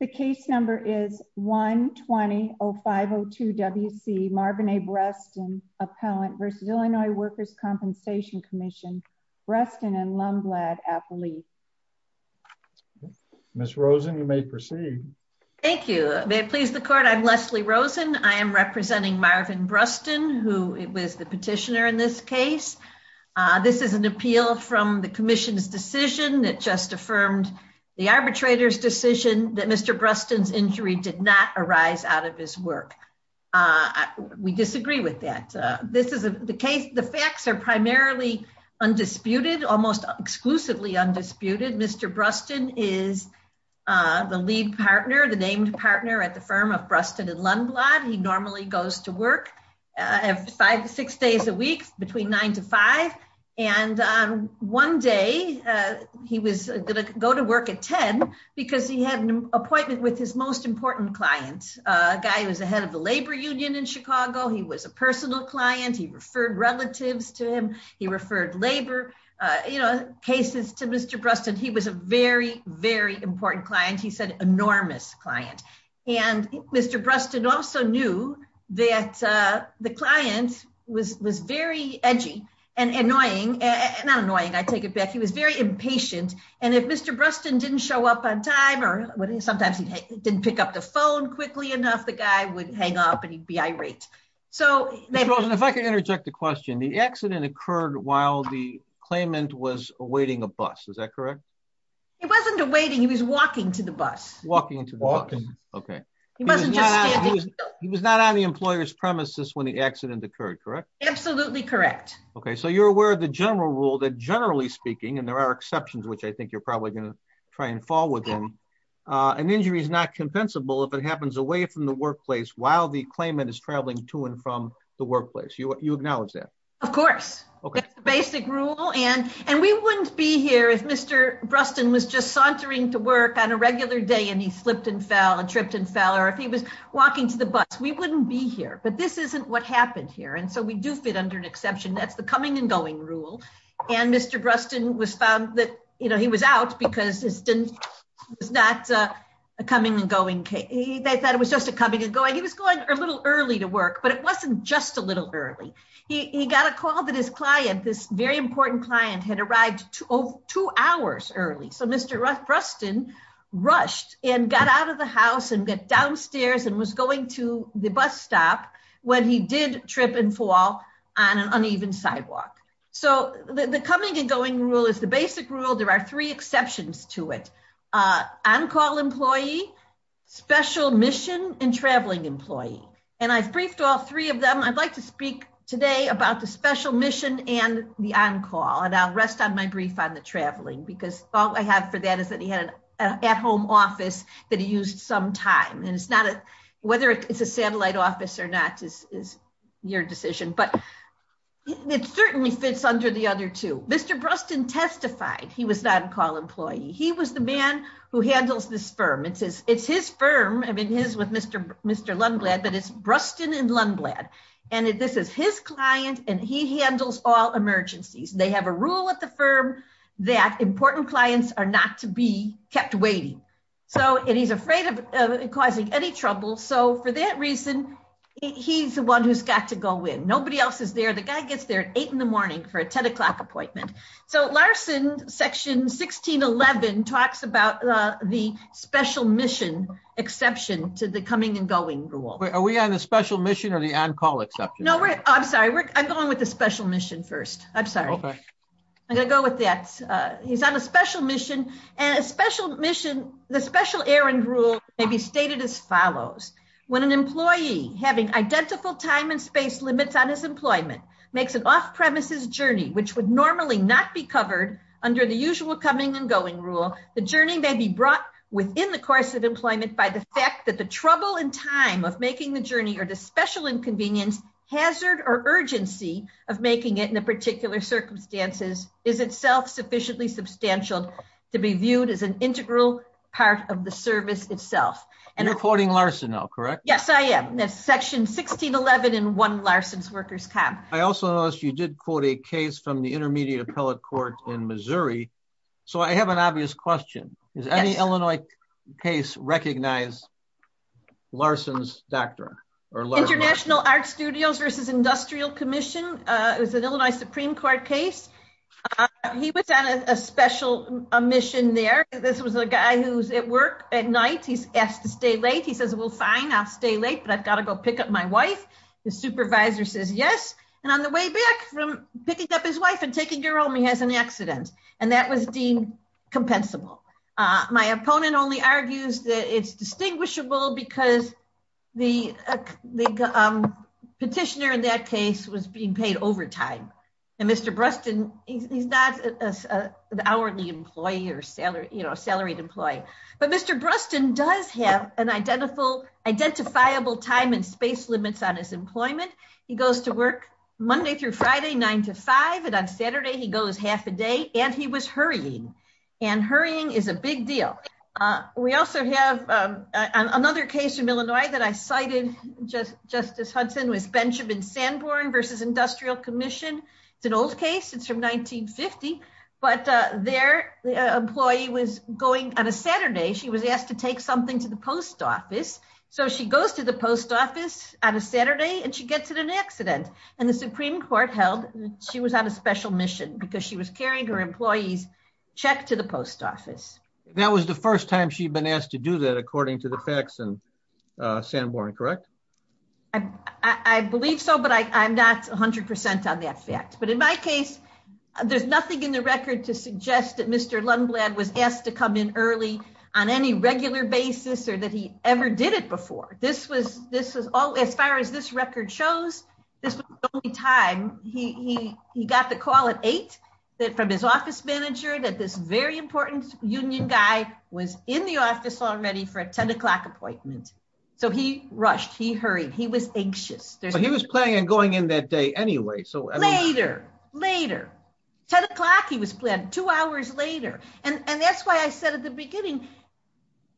The case number is 120-0502-WC Marvin A. Brustin, Appellant v. Illinois Workers' Compensation Commission, Brustin and Lumblad, Appellee. Ms. Rosen, you may proceed. Thank you. May it please the Court, I'm Leslie Rosen. I am representing Marvin Brustin, who was the petitioner in this case. This is an appeal from the Commission's decision that just affirmed the arbitrator's decision that Mr. Brustin's injury did not arise out of his work. We disagree with that. The facts are primarily undisputed, almost exclusively undisputed. Mr. Brustin is the lead partner, the named partner at the firm of Brustin and Lumblad. He normally goes to work five to six days a week, between nine to five. One day, he was going to go to work at 10 because he had an appointment with his most important client, a guy who was the head of the labor union in Chicago. He was a personal client. He referred relatives to him. He referred labor cases to Mr. Brustin. He was a very, very important client. He's an enormous client. Mr. Brustin also knew that the client was very edgy and annoying. Not annoying, I take it back. He was very impatient. If Mr. Brustin didn't show up on time, or sometimes he didn't pick up the phone quickly enough, the guy would hang up and he'd be irate. Ms. Rosen, if I could interject the question, the accident occurred while the claimant was awaiting a bus, is that correct? He wasn't awaiting, he was walking to the bus. Walking to the bus, okay. He wasn't just standing still. He was not on the employer's premises when the accident occurred, correct? Absolutely correct. Okay, so you're aware of the general rule that generally speaking, and there are exceptions, which I think you're probably going to try and fall within, an injury is not compensable if it happens away from the workplace while the claimant is traveling to and from the workplace. You acknowledge that? Of course, that's the basic rule. And we wouldn't be here if Mr. Brustin was just sauntering to work on a regular day, and he slipped and fell, and tripped and fell, or if he was walking to the bus, we wouldn't be here. But this isn't what happened here, and so we do fit under an exception. That's the coming and going rule. And Mr. Brustin was found that he was out because this was not a coming and going case. They thought it was just a coming and going case. He got a call that his client, this very important client, had arrived two hours early. So Mr. Brustin rushed and got out of the house and got downstairs and was going to the bus stop when he did trip and fall on an uneven sidewalk. So the coming and going rule is the basic rule. There are three exceptions to it. On-call employee, special mission, and traveling employee. And I've briefed all three of them. I'd like to speak today about the special mission and the on-call, and I'll rest on my brief on the traveling, because all I have for that is that he had an at-home office that he used some time, and it's not a, whether it's a satellite office or not is your decision, but it certainly fits under the other two. Mr. Brustin testified he was an on-call employee. He was the man who handles this firm. It's his firm, I mean his with Mr. Lundblad, but it's Brustin and Lundblad, and this is his client, and he handles all emergencies. They have a rule at the firm that important clients are not to be kept waiting. So, and he's afraid of causing any trouble. So for that reason, he's the one who's got to go in. Nobody else is there. The guy gets there at eight in the morning for a 10 o'clock appointment. So Larson section 1611 talks about the special mission exception to the coming and going rule. Are we on the special mission or the on-call exception? No, we're, I'm sorry, we're, I'm going with the special mission first. I'm sorry. Okay. I'm gonna go with that. He's on a special mission, and a special mission, the special errand rule may be stated as follows. When an employee having identical time and space limits on his employment makes an off-premises journey, which would normally not be covered under the usual coming and going rule, the journey may be brought within the course of employment by the fact that the trouble and time of making the journey or the special inconvenience, hazard, or urgency of making it in a particular circumstances is itself sufficiently substantial to be viewed as an integral part of the service itself. And you're quoting Larson now, correct? Yes, I am. That's section 1611 in 1 Larson's Workers' Comp. I also noticed you did quote a case from the I have an obvious question. Does any Illinois case recognize Larson's doctor? International Art Studios versus Industrial Commission. It was an Illinois Supreme Court case. He was on a special mission there. This was a guy who's at work at night. He's asked to stay late. He says, well, fine, I'll stay late, but I've got to go pick up my wife. The supervisor says yes, and on the way back from picking up his wife and taking her home, he has an accident. And that was deemed compensable. My opponent only argues that it's distinguishable because the petitioner in that case was being paid overtime. And Mr. Bruston, he's not an hourly employee or salaried employee. But Mr. Bruston does have an identifiable time and space limits on his employment. He goes to work Monday through Friday, nine to five. And on Saturday, he goes half a day. And he was hurrying. And hurrying is a big deal. We also have another case in Illinois that I cited, Justice Hudson was Benjamin Sanborn versus Industrial Commission. It's an old case. It's from 1950. But their employee was going on a Saturday, she was asked to take something to the post office. So she goes to the post office on a Saturday, and she gets in an accident. And the Supreme Court held that she was on a special mission because she was carrying her employees check to the post office. That was the first time she'd been asked to do that, according to the facts and Sanborn, correct? I believe so. But I'm not 100% on that fact. But in my case, there's nothing in the record to suggest that Mr. Lundblad was asked to come in early on any regular basis or that he ever did it before. This was this was all as far as this record shows. This was the only time he got the call at eight from his office manager that this very important union guy was in the office already for a 10 o'clock appointment. So he rushed, he hurried, he was anxious. He was planning on going in that day anyway. So later, later, 10 o'clock, he was planned two hours later. And that's why I said at the beginning,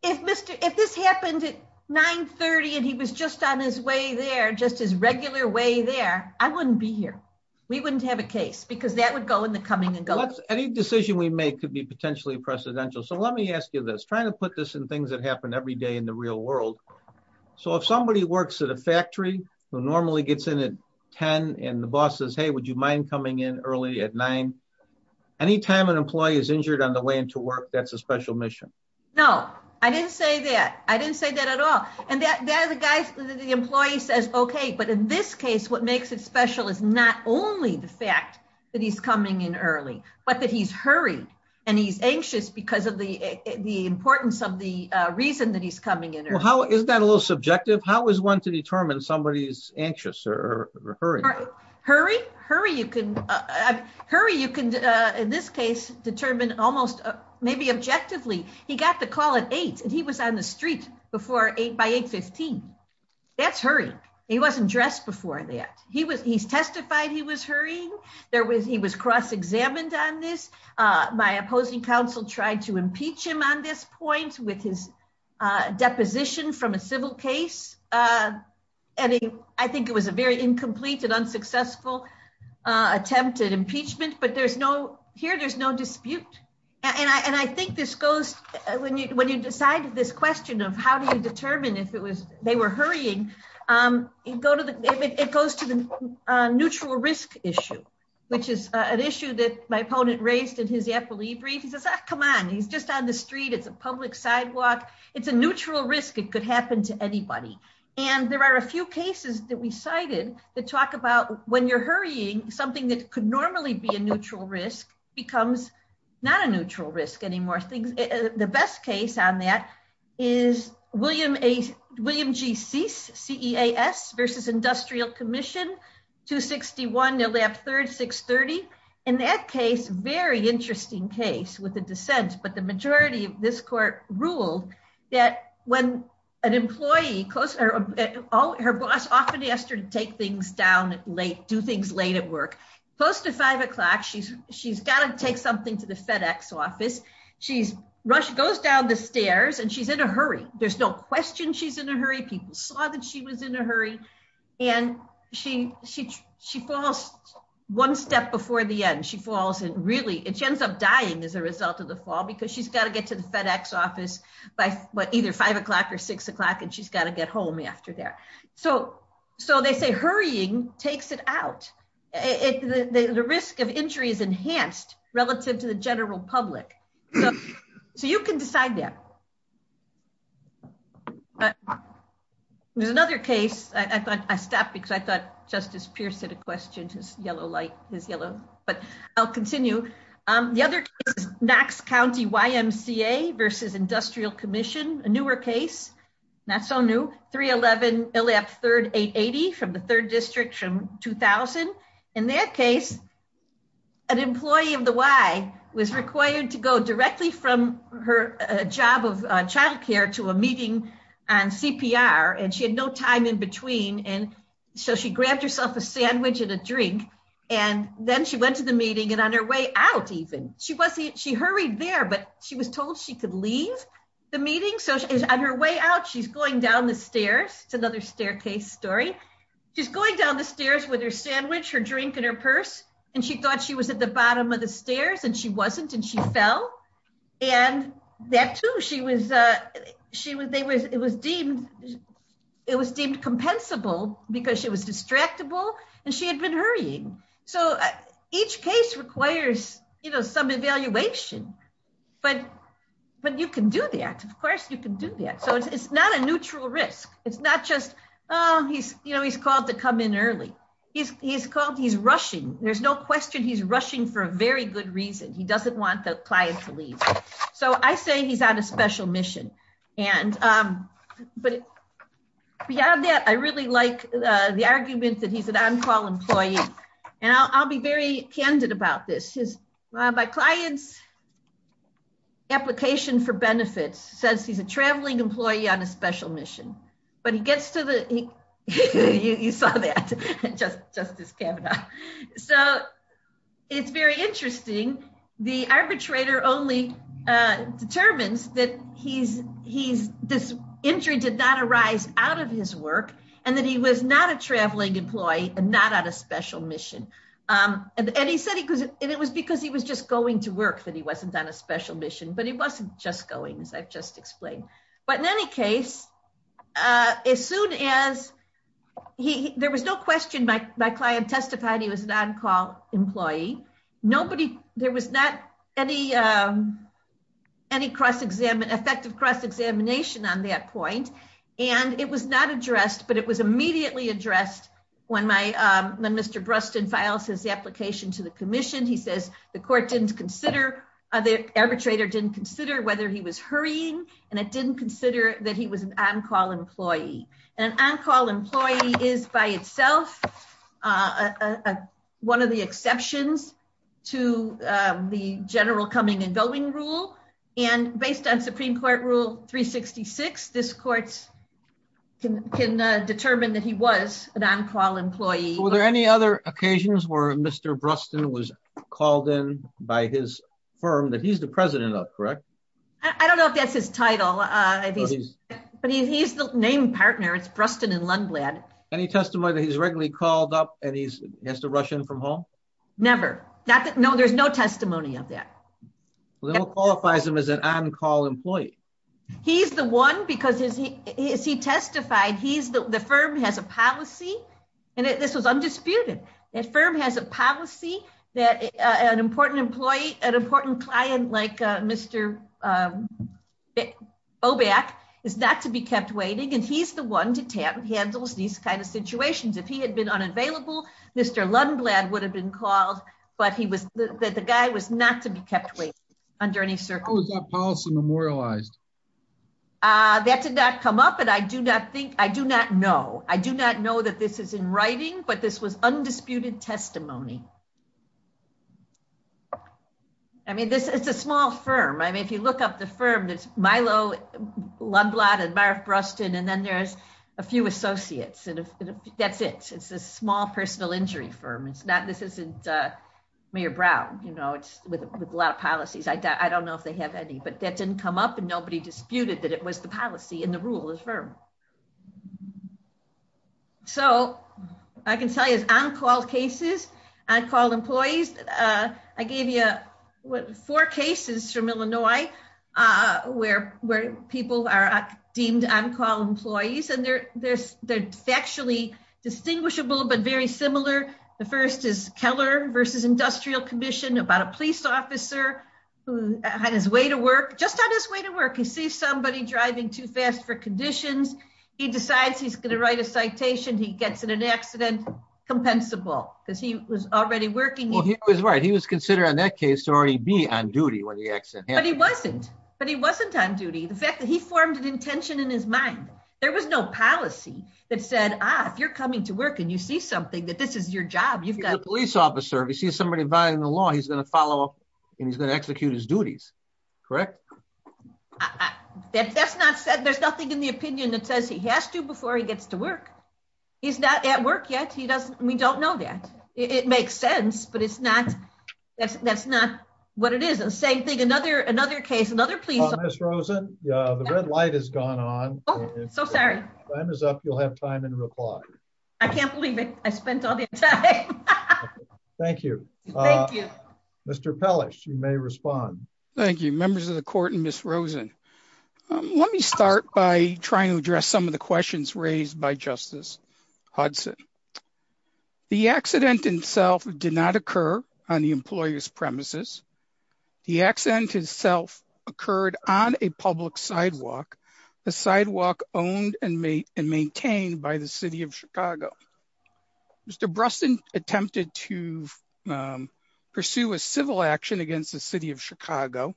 if Mr. if this happened at 930, and he was just on his way there, just his regular way there, I wouldn't be here. We wouldn't have a case because that would go in the coming and go. Any decision we make could be potentially precedential. So let me ask you this trying to put this in things that happen every day in the real world. So if somebody works at a factory, who normally gets in at 10, and the boss says, Hey, would you mind coming in early at nine? Anytime an employee is injured on the way into work, that's a special mission. No, I didn't say that. I didn't say that at all. And that guy, the employee says, Okay, but in this case, what makes it special is not only the fact that he's coming in early, but that he's hurried. And he's anxious because of the importance of the reason that he's coming in. How is that a little subjective? How is one to determine somebody is anxious or hurry? Hurry, you can hurry, you can, in this case, determine almost maybe objectively, he got the call at eight, and he was on the street before eight by 815. That's hurrying. He wasn't dressed before that. He was he's testified he was hurrying. There was he was cross examined on this. My opposing counsel tried to impeach him on this point with his incomplete and unsuccessful attempted impeachment, but there's no here there's no dispute. And I think this goes when you when you decided this question of how do you determine if it was they were hurrying and go to the it goes to the neutral risk issue, which is an issue that my opponent raised in his epilepsy brief, he says, Come on, he's just on the street. It's a public sidewalk. It's a neutral risk, it could happen to anybody. And there are a few cases that we cited that talk about when you're hurrying something that could normally be a neutral risk becomes not a neutral risk anymore. The best case on that is William A. William GC CEAS versus Industrial Commission 261, they'll have third 630. In that case, very interesting case with the dissent, but the majority of this court ruled that when an employee close to her boss often asked her to take things down late, do things late at work, close to five o'clock, she's she's got to take something to the FedEx office. She's rush goes down the stairs, and she's in a hurry. There's no question she's in a hurry. People saw that she was in a hurry. And she she she falls one step before the end, she falls and really it ends up dying as a result of the fall because she's got to get to the FedEx office by either five o'clock or six o'clock and she's got to get home after there. So so they say hurrying takes it out. It the risk of injury is enhanced relative to the general public. So you can decide that. But there's another case I thought I stopped because I thought Justice Pierce had a question. His yellow light is yellow. But I'll continue. The other is Knox County YMCA versus Industrial Commission, a newer case, not so new 311 LF 3880 from the third district from 2000. In that case, an employee of the Y was required to go directly from her job of a drink. And then she went to the meeting. And on her way out, even she wasn't she hurried there, but she was told she could leave the meeting. So on her way out, she's going down the stairs. It's another staircase story. She's going down the stairs with her sandwich, her drink in her purse. And she thought she was at the bottom of the stairs and she wasn't and she fell. And that too, it was deemed compensable because she was distractible and she had been hurrying. So each case requires some evaluation. But you can do that. Of course, you can do that. So it's not a neutral risk. It's not just he's called to come in early. He's called he's rushing. There's no question he's rushing for a very good reason. He doesn't want the client to leave. So I say he's on a special mission. And but beyond that, I really like the argument that he's an on-call employee. And I'll be very candid about this. My client's application for benefits says he's a traveling employee on a special mission. But he gets to the you saw that Justice Kavanaugh. So it's very interesting. The arbitrator only determines that he's he's this injury did not arise out of his work and that he was not a traveling employee and not on a special mission. And he said he was and it was because he was just going to work that he wasn't on a special mission, but he wasn't just going as I've just explained. But in any case, as soon as he there was no question, my client testified he was an on-call employee. Nobody there was not any any cross examine effective cross examination on that point. And it was not addressed, but it was immediately addressed. When my Mr. Bruston files his application to the commission, he says the court didn't consider the arbitrator didn't consider whether he was hurrying. And it didn't consider that he was an on-call employee. An on-call employee is by itself one of the exceptions to the general coming and going rule. And based on Supreme Court rule 366, this courts can can determine that he was an on-call employee. Were there any other occasions where Mr. Bruston was called in by his firm that he's the president of correct? I don't know if his title, but he's the name partner. It's Bruston and Lundblad. Any testimony that he's regularly called up and he's has to rush in from home? Never. No, there's no testimony of that. Little qualifies him as an on-call employee. He's the one because he is he testified he's the firm has a policy and this was undisputed. That firm has a policy that an important employee, an important client like Mr. Oback is not to be kept waiting and he's the one to tap handles these kind of situations. If he had been unavailable, Mr. Lundblad would have been called, but he was that the guy was not to be kept waiting under any circle. That did not come up and I do not think I do not know. I do not know that this is in writing, but this was undisputed testimony. I mean, this is a small firm. I mean, if you look up the firm, there's Milo, Lundblad and Marth Bruston, and then there's a few associates and that's it. It's a small personal injury firm. It's not this isn't Mayor Brown, you know, it's with a lot of policies. I don't know if they have any, but that didn't come up and nobody disputed that it was the policy and the rule of the firm. So I can tell you it's on-call cases, on-call employees. I gave you four cases from Illinois where people are deemed on-call employees and they're factually distinguishable, but very similar. The first is Keller versus Industrial Commission about a police for conditions. He decides he's going to write a citation. He gets in an accident, compensable because he was already working. Well, he was right. He was considered on that case to already be on duty when the accident happened. But he wasn't, but he wasn't on duty. The fact that he formed an intention in his mind, there was no policy that said, ah, if you're coming to work and you see something that this is your job, you've got a police officer. If you see somebody violating the law, he's going to follow up and he's going to execute his duties, correct? I, that's not said, there's nothing in the opinion that says he has to before he gets to work. He's not at work yet. He doesn't, we don't know that. It makes sense, but it's not, that's, that's not what it is. And the same thing, another, another case, another police officer. Ms. Rosen, the red light has gone on. So sorry. Time is up. You'll have time in reply. I can't believe it. I spent all the time. Thank you. Thank you. Mr. Pellish, you may respond. Thank you, members of the court and Ms. Rosen. Let me start by trying to address some of the questions raised by Justice Hudson. The accident itself did not occur on the employer's premises. The accident itself occurred on a public sidewalk, a sidewalk owned and maintained by the city of Chicago. Mr. Bruston attempted to pursue a civil action against the city of Chicago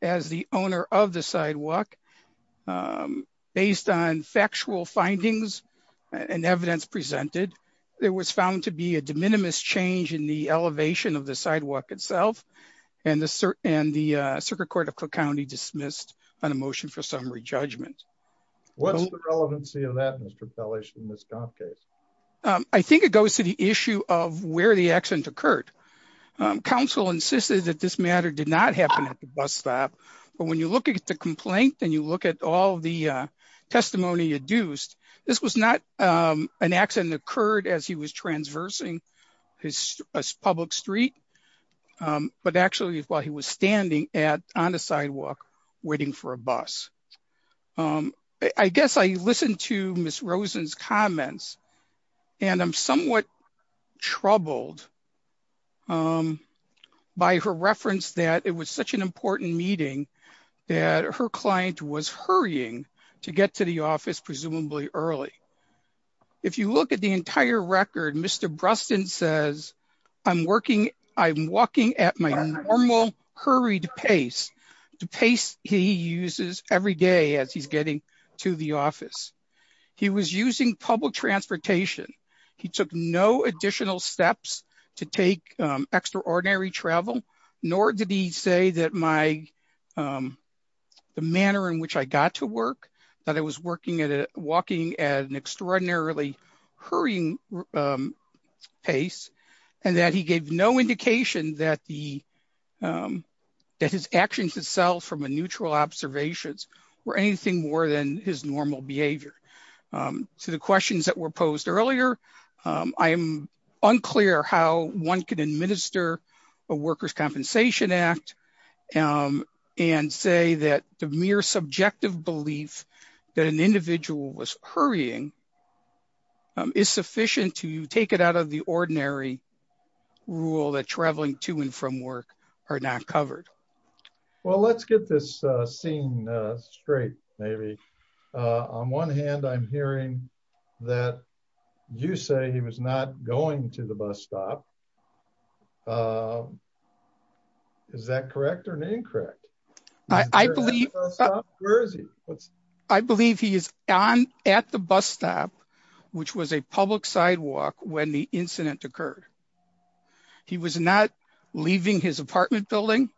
as the owner of the sidewalk. Based on factual findings and evidence presented, there was found to be a de minimis change in the elevation of the sidewalk itself and the circuit court of Cook County dismissed on a motion for summary judgment. What's the relevancy of that, Mr. Pellish, in this comp case? I think it goes to the issue of where the accident occurred. Counsel insisted that this matter did not happen at the bus stop, but when you look at the complaint and you look at all the testimony adduced, this was not an accident occurred as he was transversing his public street, but actually while he was standing on the sidewalk waiting for a bus. I guess I listened to Ms. Rosen's comments and I'm somewhat troubled by her reference that it was such an important meeting that her client was hurrying to get to the office presumably early. If you look at the entire record, Mr. Bruston says, I'm working, I'm walking at my normal hurried pace, the pace he uses every day as he's getting to the office. He was using public transportation. He took no additional steps to take extraordinary travel, nor did he say that the manner in which I got to work, that I was walking at an extraordinarily hurrying pace, and that he gave no indication that his actions itself from a neutral observations were anything more than his normal behavior. To the questions that were posed earlier, I'm unclear how one could administer a worker's compensation act and say that the mere subjective belief that an individual was hurrying is sufficient to take it out of the ordinary rule that traveling to and from work are not covered. Well, let's get this scene straight, maybe. On one hand, I'm hearing that you say he was not going to the bus stop. Is that correct or incorrect? I believe he is at the bus stop, which was a public sidewalk when the incident occurred. He was not leaving his apartment building.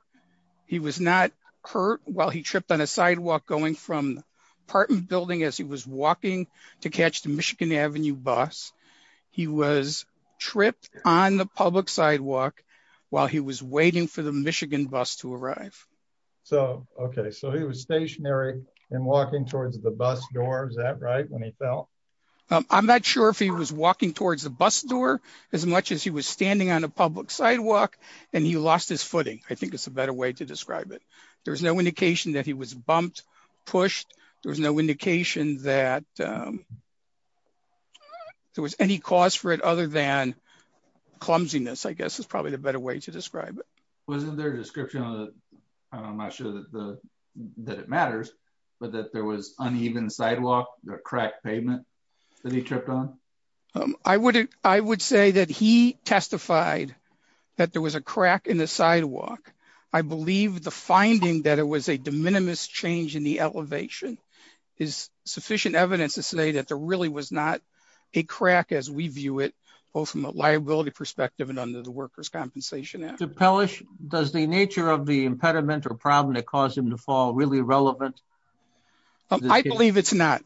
He was not hurt while he tripped on a sidewalk going from apartment building as he was walking to catch the Michigan Avenue bus. He was tripped on the public sidewalk while he was waiting for the Michigan bus to arrive. So he was stationary and walking towards the bus door. Is that right when he fell? I'm not sure if he was walking towards the bus door as much as he was standing on a public sidewalk, and he lost his footing. I think it's a better way to describe it. There was no indication that he was bumped, pushed. There was no indication that there was any cause for it other than clumsiness, I guess, is probably the better way to describe it. Wasn't there a description, I'm not sure that it matters, but that there was uneven sidewalk, a cracked pavement that he tripped on? I would say that he testified that there was a crack in the sidewalk. I believe the finding that it was a de minimis change in the elevation is sufficient evidence to say that there really was not a crack as we view it, both from a liability perspective and under the Workers' Compensation Act. Does the nature of the impediment or problem that caused him to fall really relevant? I believe it's not.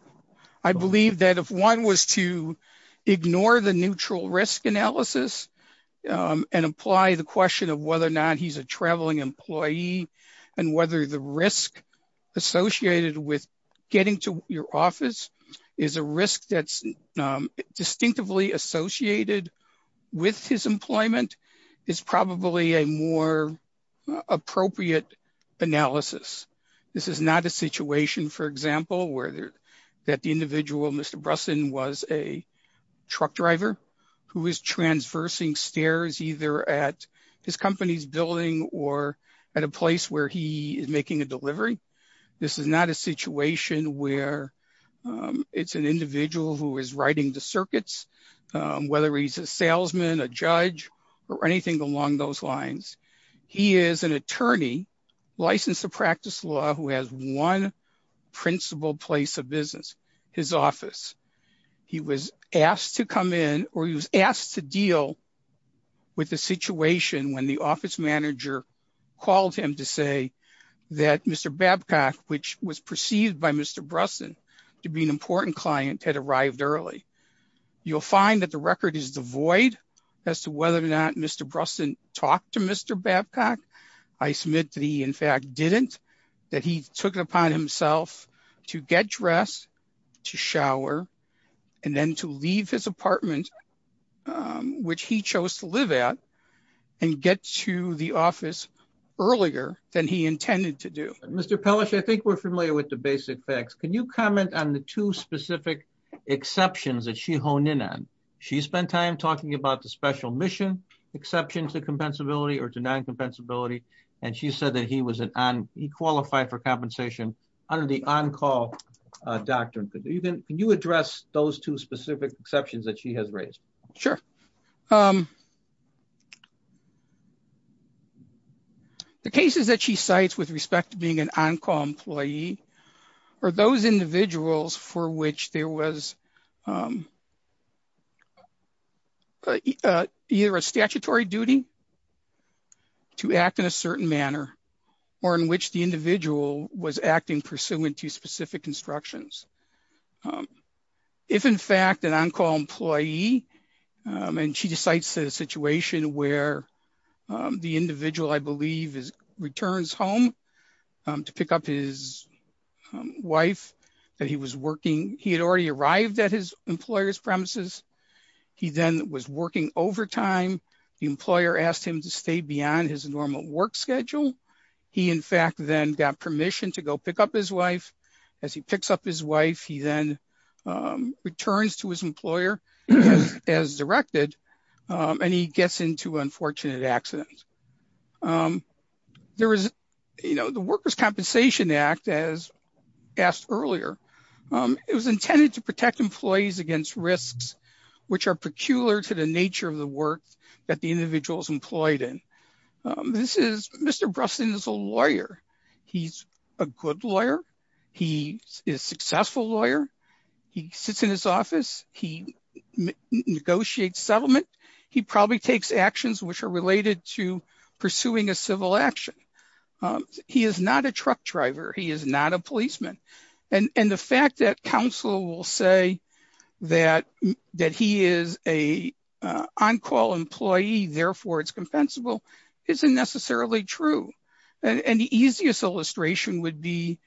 I believe that if one was to ignore the neutral risk analysis and apply the question of whether or not he's a traveling employee and whether the risk associated with getting to your office is a risk that's distinctively associated with his employment is probably a more appropriate analysis. This is not a situation, for example, where the individual, Mr. Brusson, was a truck driver who is transversing stairs either at his company's building or at a place where he is making a delivery. This is not a situation where it's an individual who is riding the circuits, whether he's a salesman, a judge, or anything along those lines. He is an attorney licensed to practice law who has one principal place of business, his office. He was asked to come in or he was asked to deal with the situation when the office manager called him to say that Mr. Babcock, which was perceived by Mr. Brusson to be an important client, had arrived early. You'll find that the record is devoid as to whether or not Mr. Brusson talked to Mr. Babcock. I submit that he, in fact, didn't. That he took it upon himself to get dressed, to shower, and then to leave his apartment, which he chose to live at, and get to the office earlier than he intended to do. Mr. Pelish, I think we're familiar with the basic facts. Can you comment on the two specific exceptions that she honed in on? She spent time talking about the special mission exception to compensability or to non-compensability, and she said that he qualified for compensation under the on-call doctrine. Can you address those two specific exceptions that she has raised? Sure. The cases that she cites with respect to being an on-call employee are those individuals for which there was either a statutory duty to act in a certain manner, or in which the individual was acting pursuant to specific instructions. If, in fact, an on-call employee, and she cites a situation where the individual, I believe, returns home to pick up his wife that he was working. He had already arrived at his employer's premises. He then was working overtime. The employer asked him to stay beyond his normal work schedule. He, in fact, then got permission to go pick up his wife. As he picks up his wife, he then returns to his employer as directed, and he gets into an unfortunate accident. The Workers' Compensation Act, as asked earlier, it was intended to protect employees against risks which are peculiar to the nature of the work that the individual is employed in. Mr. Bruston is a lawyer. He's a good lawyer. He is a successful lawyer. He sits in his office. He negotiates settlement. He probably takes actions which are related to pursuing a civil action. He is not a truck driver. He is not a policeman. And the fact that counsel will say that he is an on-call employee, therefore it's compensable, isn't necessarily true. And the easiest illustration would be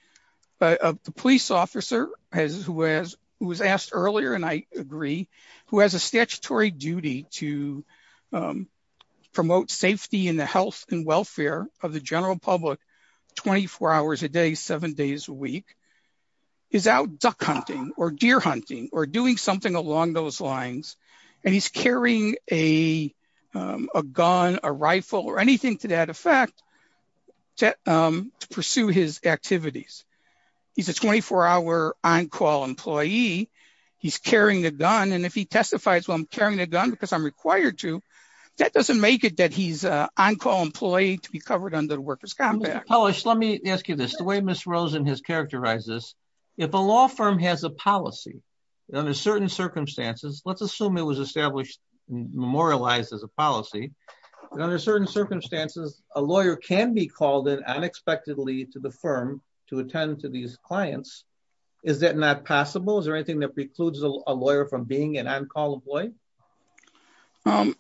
the police officer who was asked earlier, and I agree, who has a statutory duty to promote safety and the health and welfare of the general public 24 hours a day, seven days a week, is out duck hunting or deer hunting or doing something along those lines, and he's carrying a gun, a rifle, or anything to that effect to pursue his activities. He's a 24-hour on-call employee. He's carrying a gun, and if he testifies, well, I'm carrying a gun because I'm required to, that doesn't make it that he's an on-call employee to be covered under the workers' compact. Mr. Polish, let me ask you this. The way Ms. Rosen has characterized this, if a law firm has a policy, under certain circumstances, let's assume it was established and memorialized as a policy, and under certain circumstances, a lawyer can be called in unexpectedly to the firm to attend to these clients. Is that not possible? Is there anything that precludes a lawyer from being an on-call employee?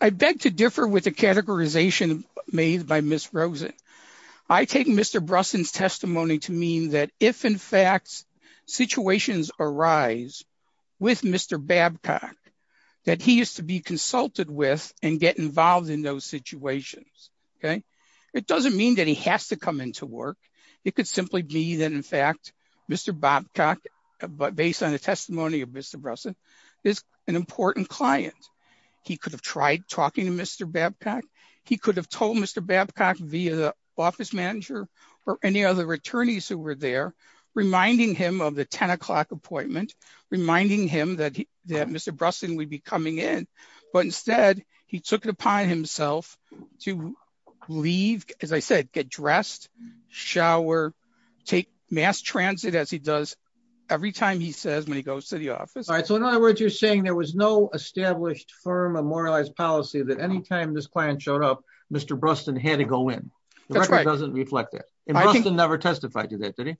I beg to differ with the categorization made by Ms. Rosen. I take Mr. Brusson's testimony to mean that if, in fact, situations arise with Mr. Babcock that he is to be consulted with and get involved in those situations, okay? It doesn't mean that he has to come into work. It could simply be that, in fact, Mr. Babcock, based on the testimony of Mr. Brusson, is an important client. He could have tried talking to Mr. Babcock. He could have told Mr. Babcock via the office manager or any other attorneys who were there, reminding him of the 10 o'clock appointment, reminding him that Mr. Brusson would be coming in, but instead, he took it upon himself to leave, as I said, get dressed, shower, take mass transit as he does every time he says when he goes to the office. All right, so in other words, you're saying there was no established firm or moralized policy that any time this client showed up, Mr. Brusson had to go in. That's right. The record doesn't reflect that. And Brusson never testified to that, did he?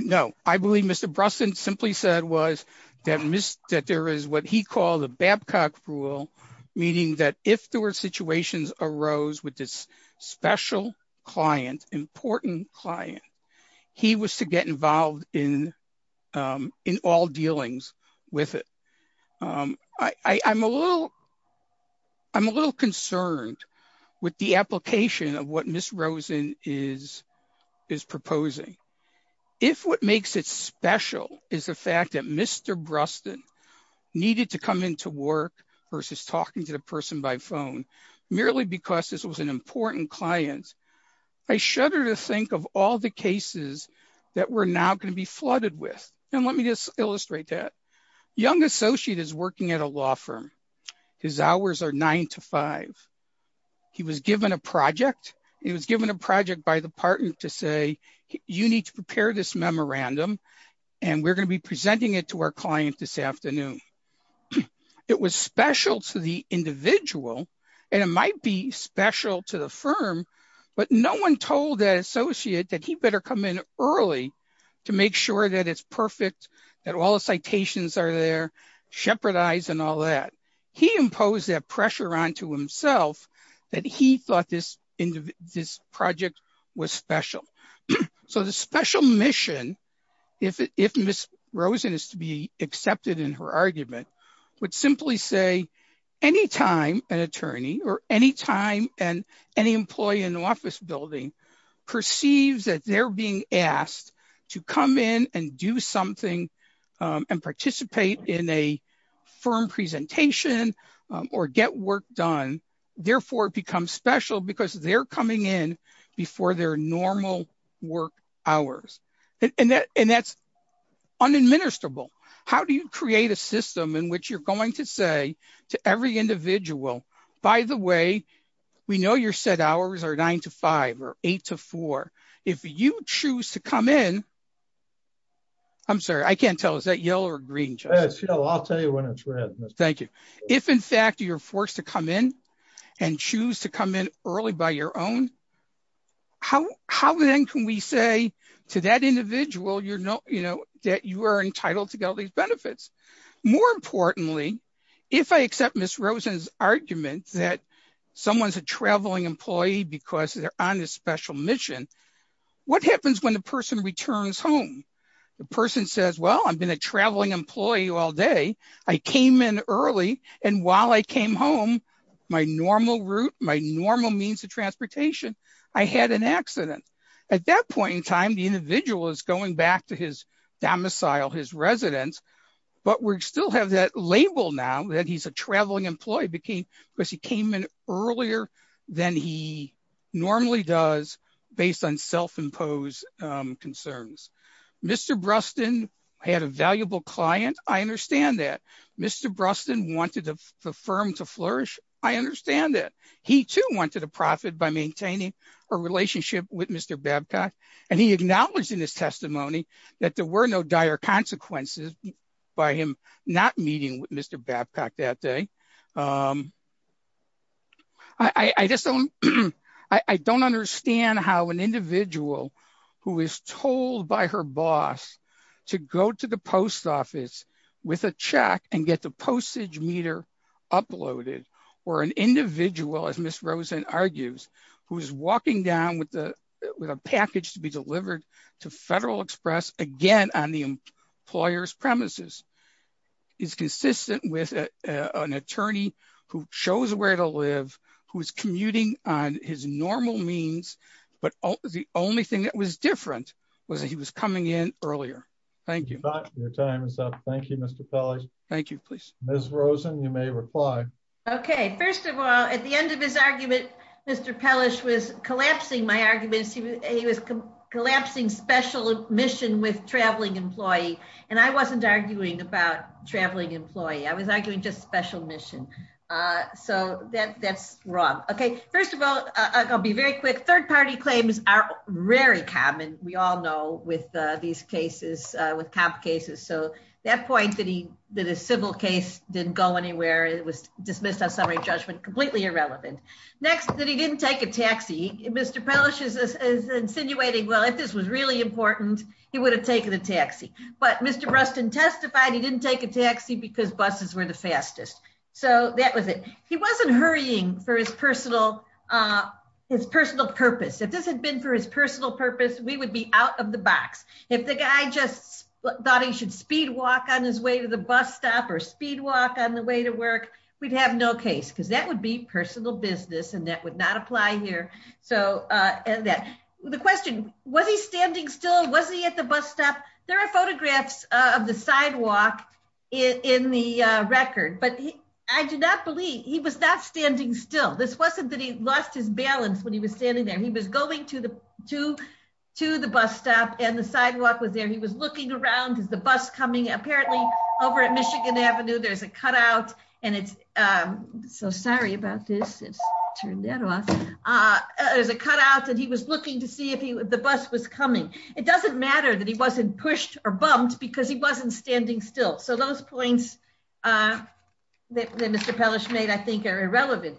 No. I believe Mr. Brusson simply said was that there is what he called Babcock rule, meaning that if there were situations arose with this special client, important client, he was to get involved in all dealings with it. I'm a little concerned with the application of what Ms. Rosen is proposing. If what makes it special is the fact that Mr. Brusson needed to come into work versus talking to the person by phone merely because this was an important client, I shudder to think of all the cases that we're now going to be flooded with. And let me just illustrate that. Young associate is working at a law firm. His hours are nine to five. He was given a project. He was given a project by the partner to say, you need to prepare this memorandum, and we're going to be presenting it to our client this afternoon. It was special to the individual, and it might be special to the firm, but no one told that associate that he better come in early to make sure that it's perfect, that all the citations are there, shepherd eyes and all that. He imposed that pressure onto himself that he thought this project was special. So the special mission, if Ms. Rosen is to be accepted in her argument, would simply say any time an attorney or any time and any employee in the office building perceives that they're being asked to come in and do something and participate in a firm presentation or get work done. Therefore, it becomes special because they're coming in before their normal work hours. And that's unadministerable. How do you create a system in which you're going to say to every individual, by the way, we know your set hours are nine to five or eight to four. If you choose to come in, I'm sorry, I can't tell. Is that yellow or green? I'll tell you when it's red. Thank you. If in fact, you're forced to come in and choose to come in early by your own, how then can we say to that individual that you are entitled to get all these benefits? More importantly, if I accept Ms. Rosen's argument that someone's a traveling employee because they're on a special mission, what happens when the person returns home? The person says, well, I've been a traveling employee all day. I came in early. And while I came home, my normal route, my normal means of transportation, I had an accident. At that point in time, the individual is going back to his domicile, his residence, but we still have that label now that he's a traveling employee because he came in earlier than he normally does based on self-imposed concerns. Mr. Bruston had a valuable client. I understand that. Mr. Bruston wanted the firm to flourish. I understand that. He too wanted a profit by maintaining a relationship with Mr. Babcock. And he acknowledged in his testimony that there were no dire consequences by him not meeting with Mr. Babcock that day. I don't understand how an individual who is told by her boss to go to the post office with a check and get the postage meter uploaded or an individual, as Ms. Rosen argues, who's walking down with a package to be delivered to Federal Express again on the employer's premises is consistent with an attorney who chose where to live, who's commuting on his normal means, but the only thing that was different was that he was coming in earlier. Thank you. Your time is up. Thank you, Mr. Pelley. Thank you, please. Ms. Rosen, you may reply. Okay. First of all, at the end of his argument, Mr. Pellish was collapsing my arguments. He was collapsing special mission with traveling employee. And I wasn't arguing about traveling employee. I was arguing just special mission. So that's wrong. Okay. First of all, I'll be very quick. Third party claims are very common. We all know with these cases, with cop cases. So that point that a civil case didn't go anywhere, it was dismissed as summary judgment, completely irrelevant. Next, that he didn't take a taxi. Mr. Pellish is insinuating, well, if this was really important, he would have taken a taxi. But Mr. Bruston testified he didn't take a taxi because buses were the fastest. So that was it. He wasn't hurrying for his personal purpose. If this had been for his personal purpose, we would be out of the box. If the guy just thought he should speed walk on his way to the bus stop or speed walk on the way to work, we'd have no case because that would be personal business and that would not apply here. So the question, was he standing still? Was he at the bus stop? There are photographs of the sidewalk in the record, but I do not believe he was not standing still. This wasn't that he lost his balance when he was standing there. He was going to the bus stop and the sidewalk was there. He was looking around. Is the bus coming? Apparently over at Michigan Avenue, there's a cutout and it's so sorry about this. It's turned that off. There's a cutout and he was looking to see if the bus was coming. It doesn't matter that he wasn't pushed or bumped because he wasn't standing still. So those points that Mr. Pellish made, I think are irrelevant.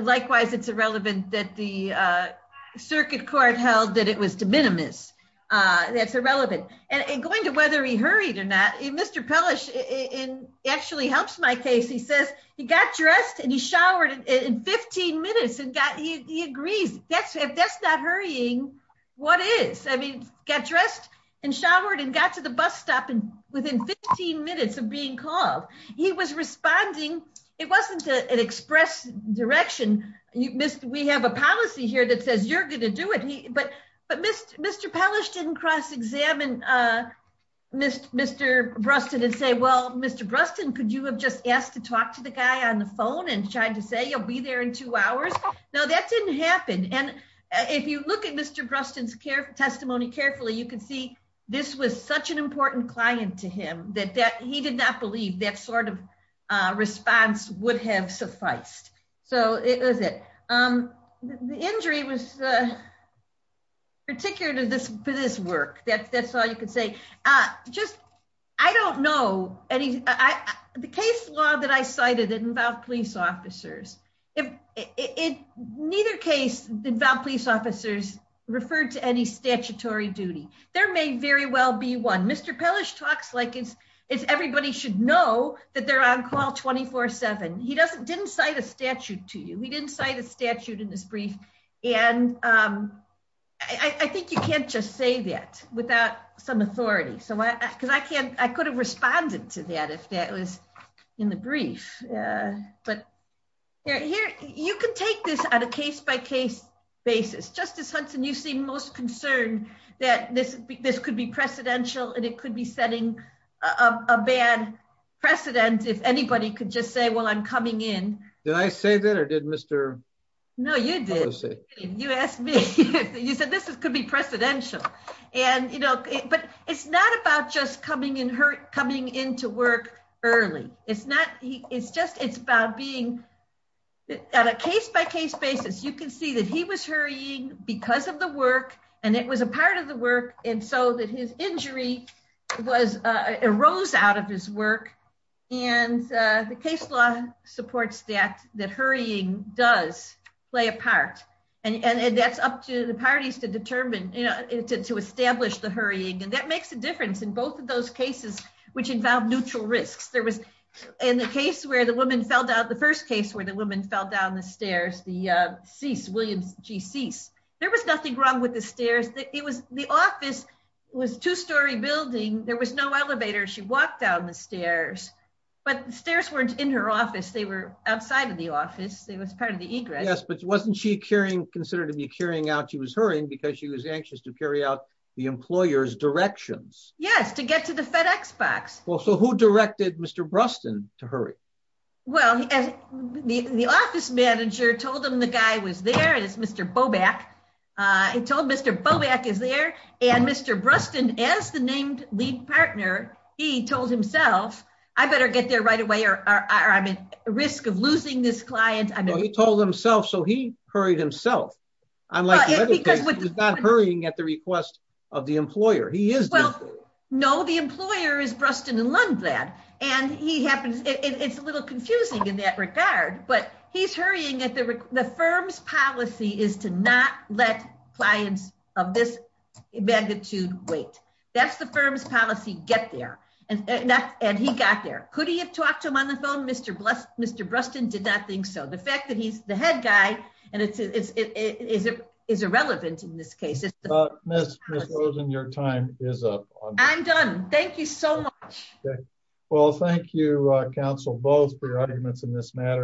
Likewise, it's irrelevant that the circuit court held that it was de minimis. That's irrelevant. And going to whether he hurried or not, Mr. Pellish actually helps my case. He says he got dressed and he showered in 15 minutes and he agrees. If that's not hurrying, what is? I mean, got dressed and showered and got to the bus stop within 15 minutes of being called. He was responding. It wasn't an express direction. We have a policy here that says you're going to do it. But Mr. Pellish didn't cross-examine Mr. Bruston and say, well, Mr. Bruston, could you have just asked to talk to the guy on the phone and tried to say, you'll be there in two hours? No, that didn't happen. And if you look at Mr. Bruston's testimony carefully, you can see this was such an important client to him that he did not believe that sort of response would have sufficed. So it was it. The injury was particular to this work. That's all you could say. Just, I don't know. The case law that I cited didn't involve police officers. Neither case involved police officers referred to any statutory duty. There may very well be one. Mr. Pellish talks like it's everybody should know that they're on call 24 seven. He didn't cite a statute to you. He didn't cite a statute in this brief. And I think you can't just say that. Without some authority. Because I could have responded to that if that was in the brief. But you can take this at a case by case basis. Justice Hudson, you seem most concerned that this could be precedential and it could be setting a bad precedent if anybody could just say, well, I'm coming in. Did I say that or did Mr. Pellish say? No, you did. You asked me. You said this could be precedential. And, you know, but it's not about just coming in her coming into work early. It's not. It's just it's about being at a case by case basis. You can see that he was hurrying because of the work and it was a part of the work. And so that his injury was a rose out of his work. And the case law supports that. That hurrying does play a part. And that's up to the parties to determine. To establish the hurrying. And that makes a difference in both of those cases, which involve neutral risks. There was in the case where the woman fell down, the first case where the woman fell down the stairs, the cease Williams, she cease. There was nothing wrong with the stairs. It was the office was two story building. There was no elevator. She walked down the stairs, but the stairs weren't in her office. They were outside of the office. They was part of the egress. Yes, but wasn't she carrying considered to be carrying out? She was hurrying because she was anxious to carry out the employer's directions. Yes, to get to the FedEx box. Well, so who directed Mr. Bruston to hurry? Well, the office manager told him the guy was there. And it's Mr. Bobak. He told Mr. Bobak is there. And Mr. Bruston, as the named lead partner, he told himself, I better get there right away or I'm at risk of losing this client. I mean, he told himself, so he hurried himself. Unlike the other case, he's not hurrying at the request of the employer. He is the employer. No, the employer is Bruston and Lundblad. And he happens, it's a little confusing in that regard, but he's hurrying at the firm's policy is to not let clients of this magnitude wait. That's the firm's policy, get there. And he got there. Could he have talked to him on the phone? Mr. Bruston did not think so. The fact that he's the head guy and it is irrelevant in this case. Miss Rosen, your time is up. I'm done. Thank you so much. Well, thank you, counsel Bowes for your arguments in this matter.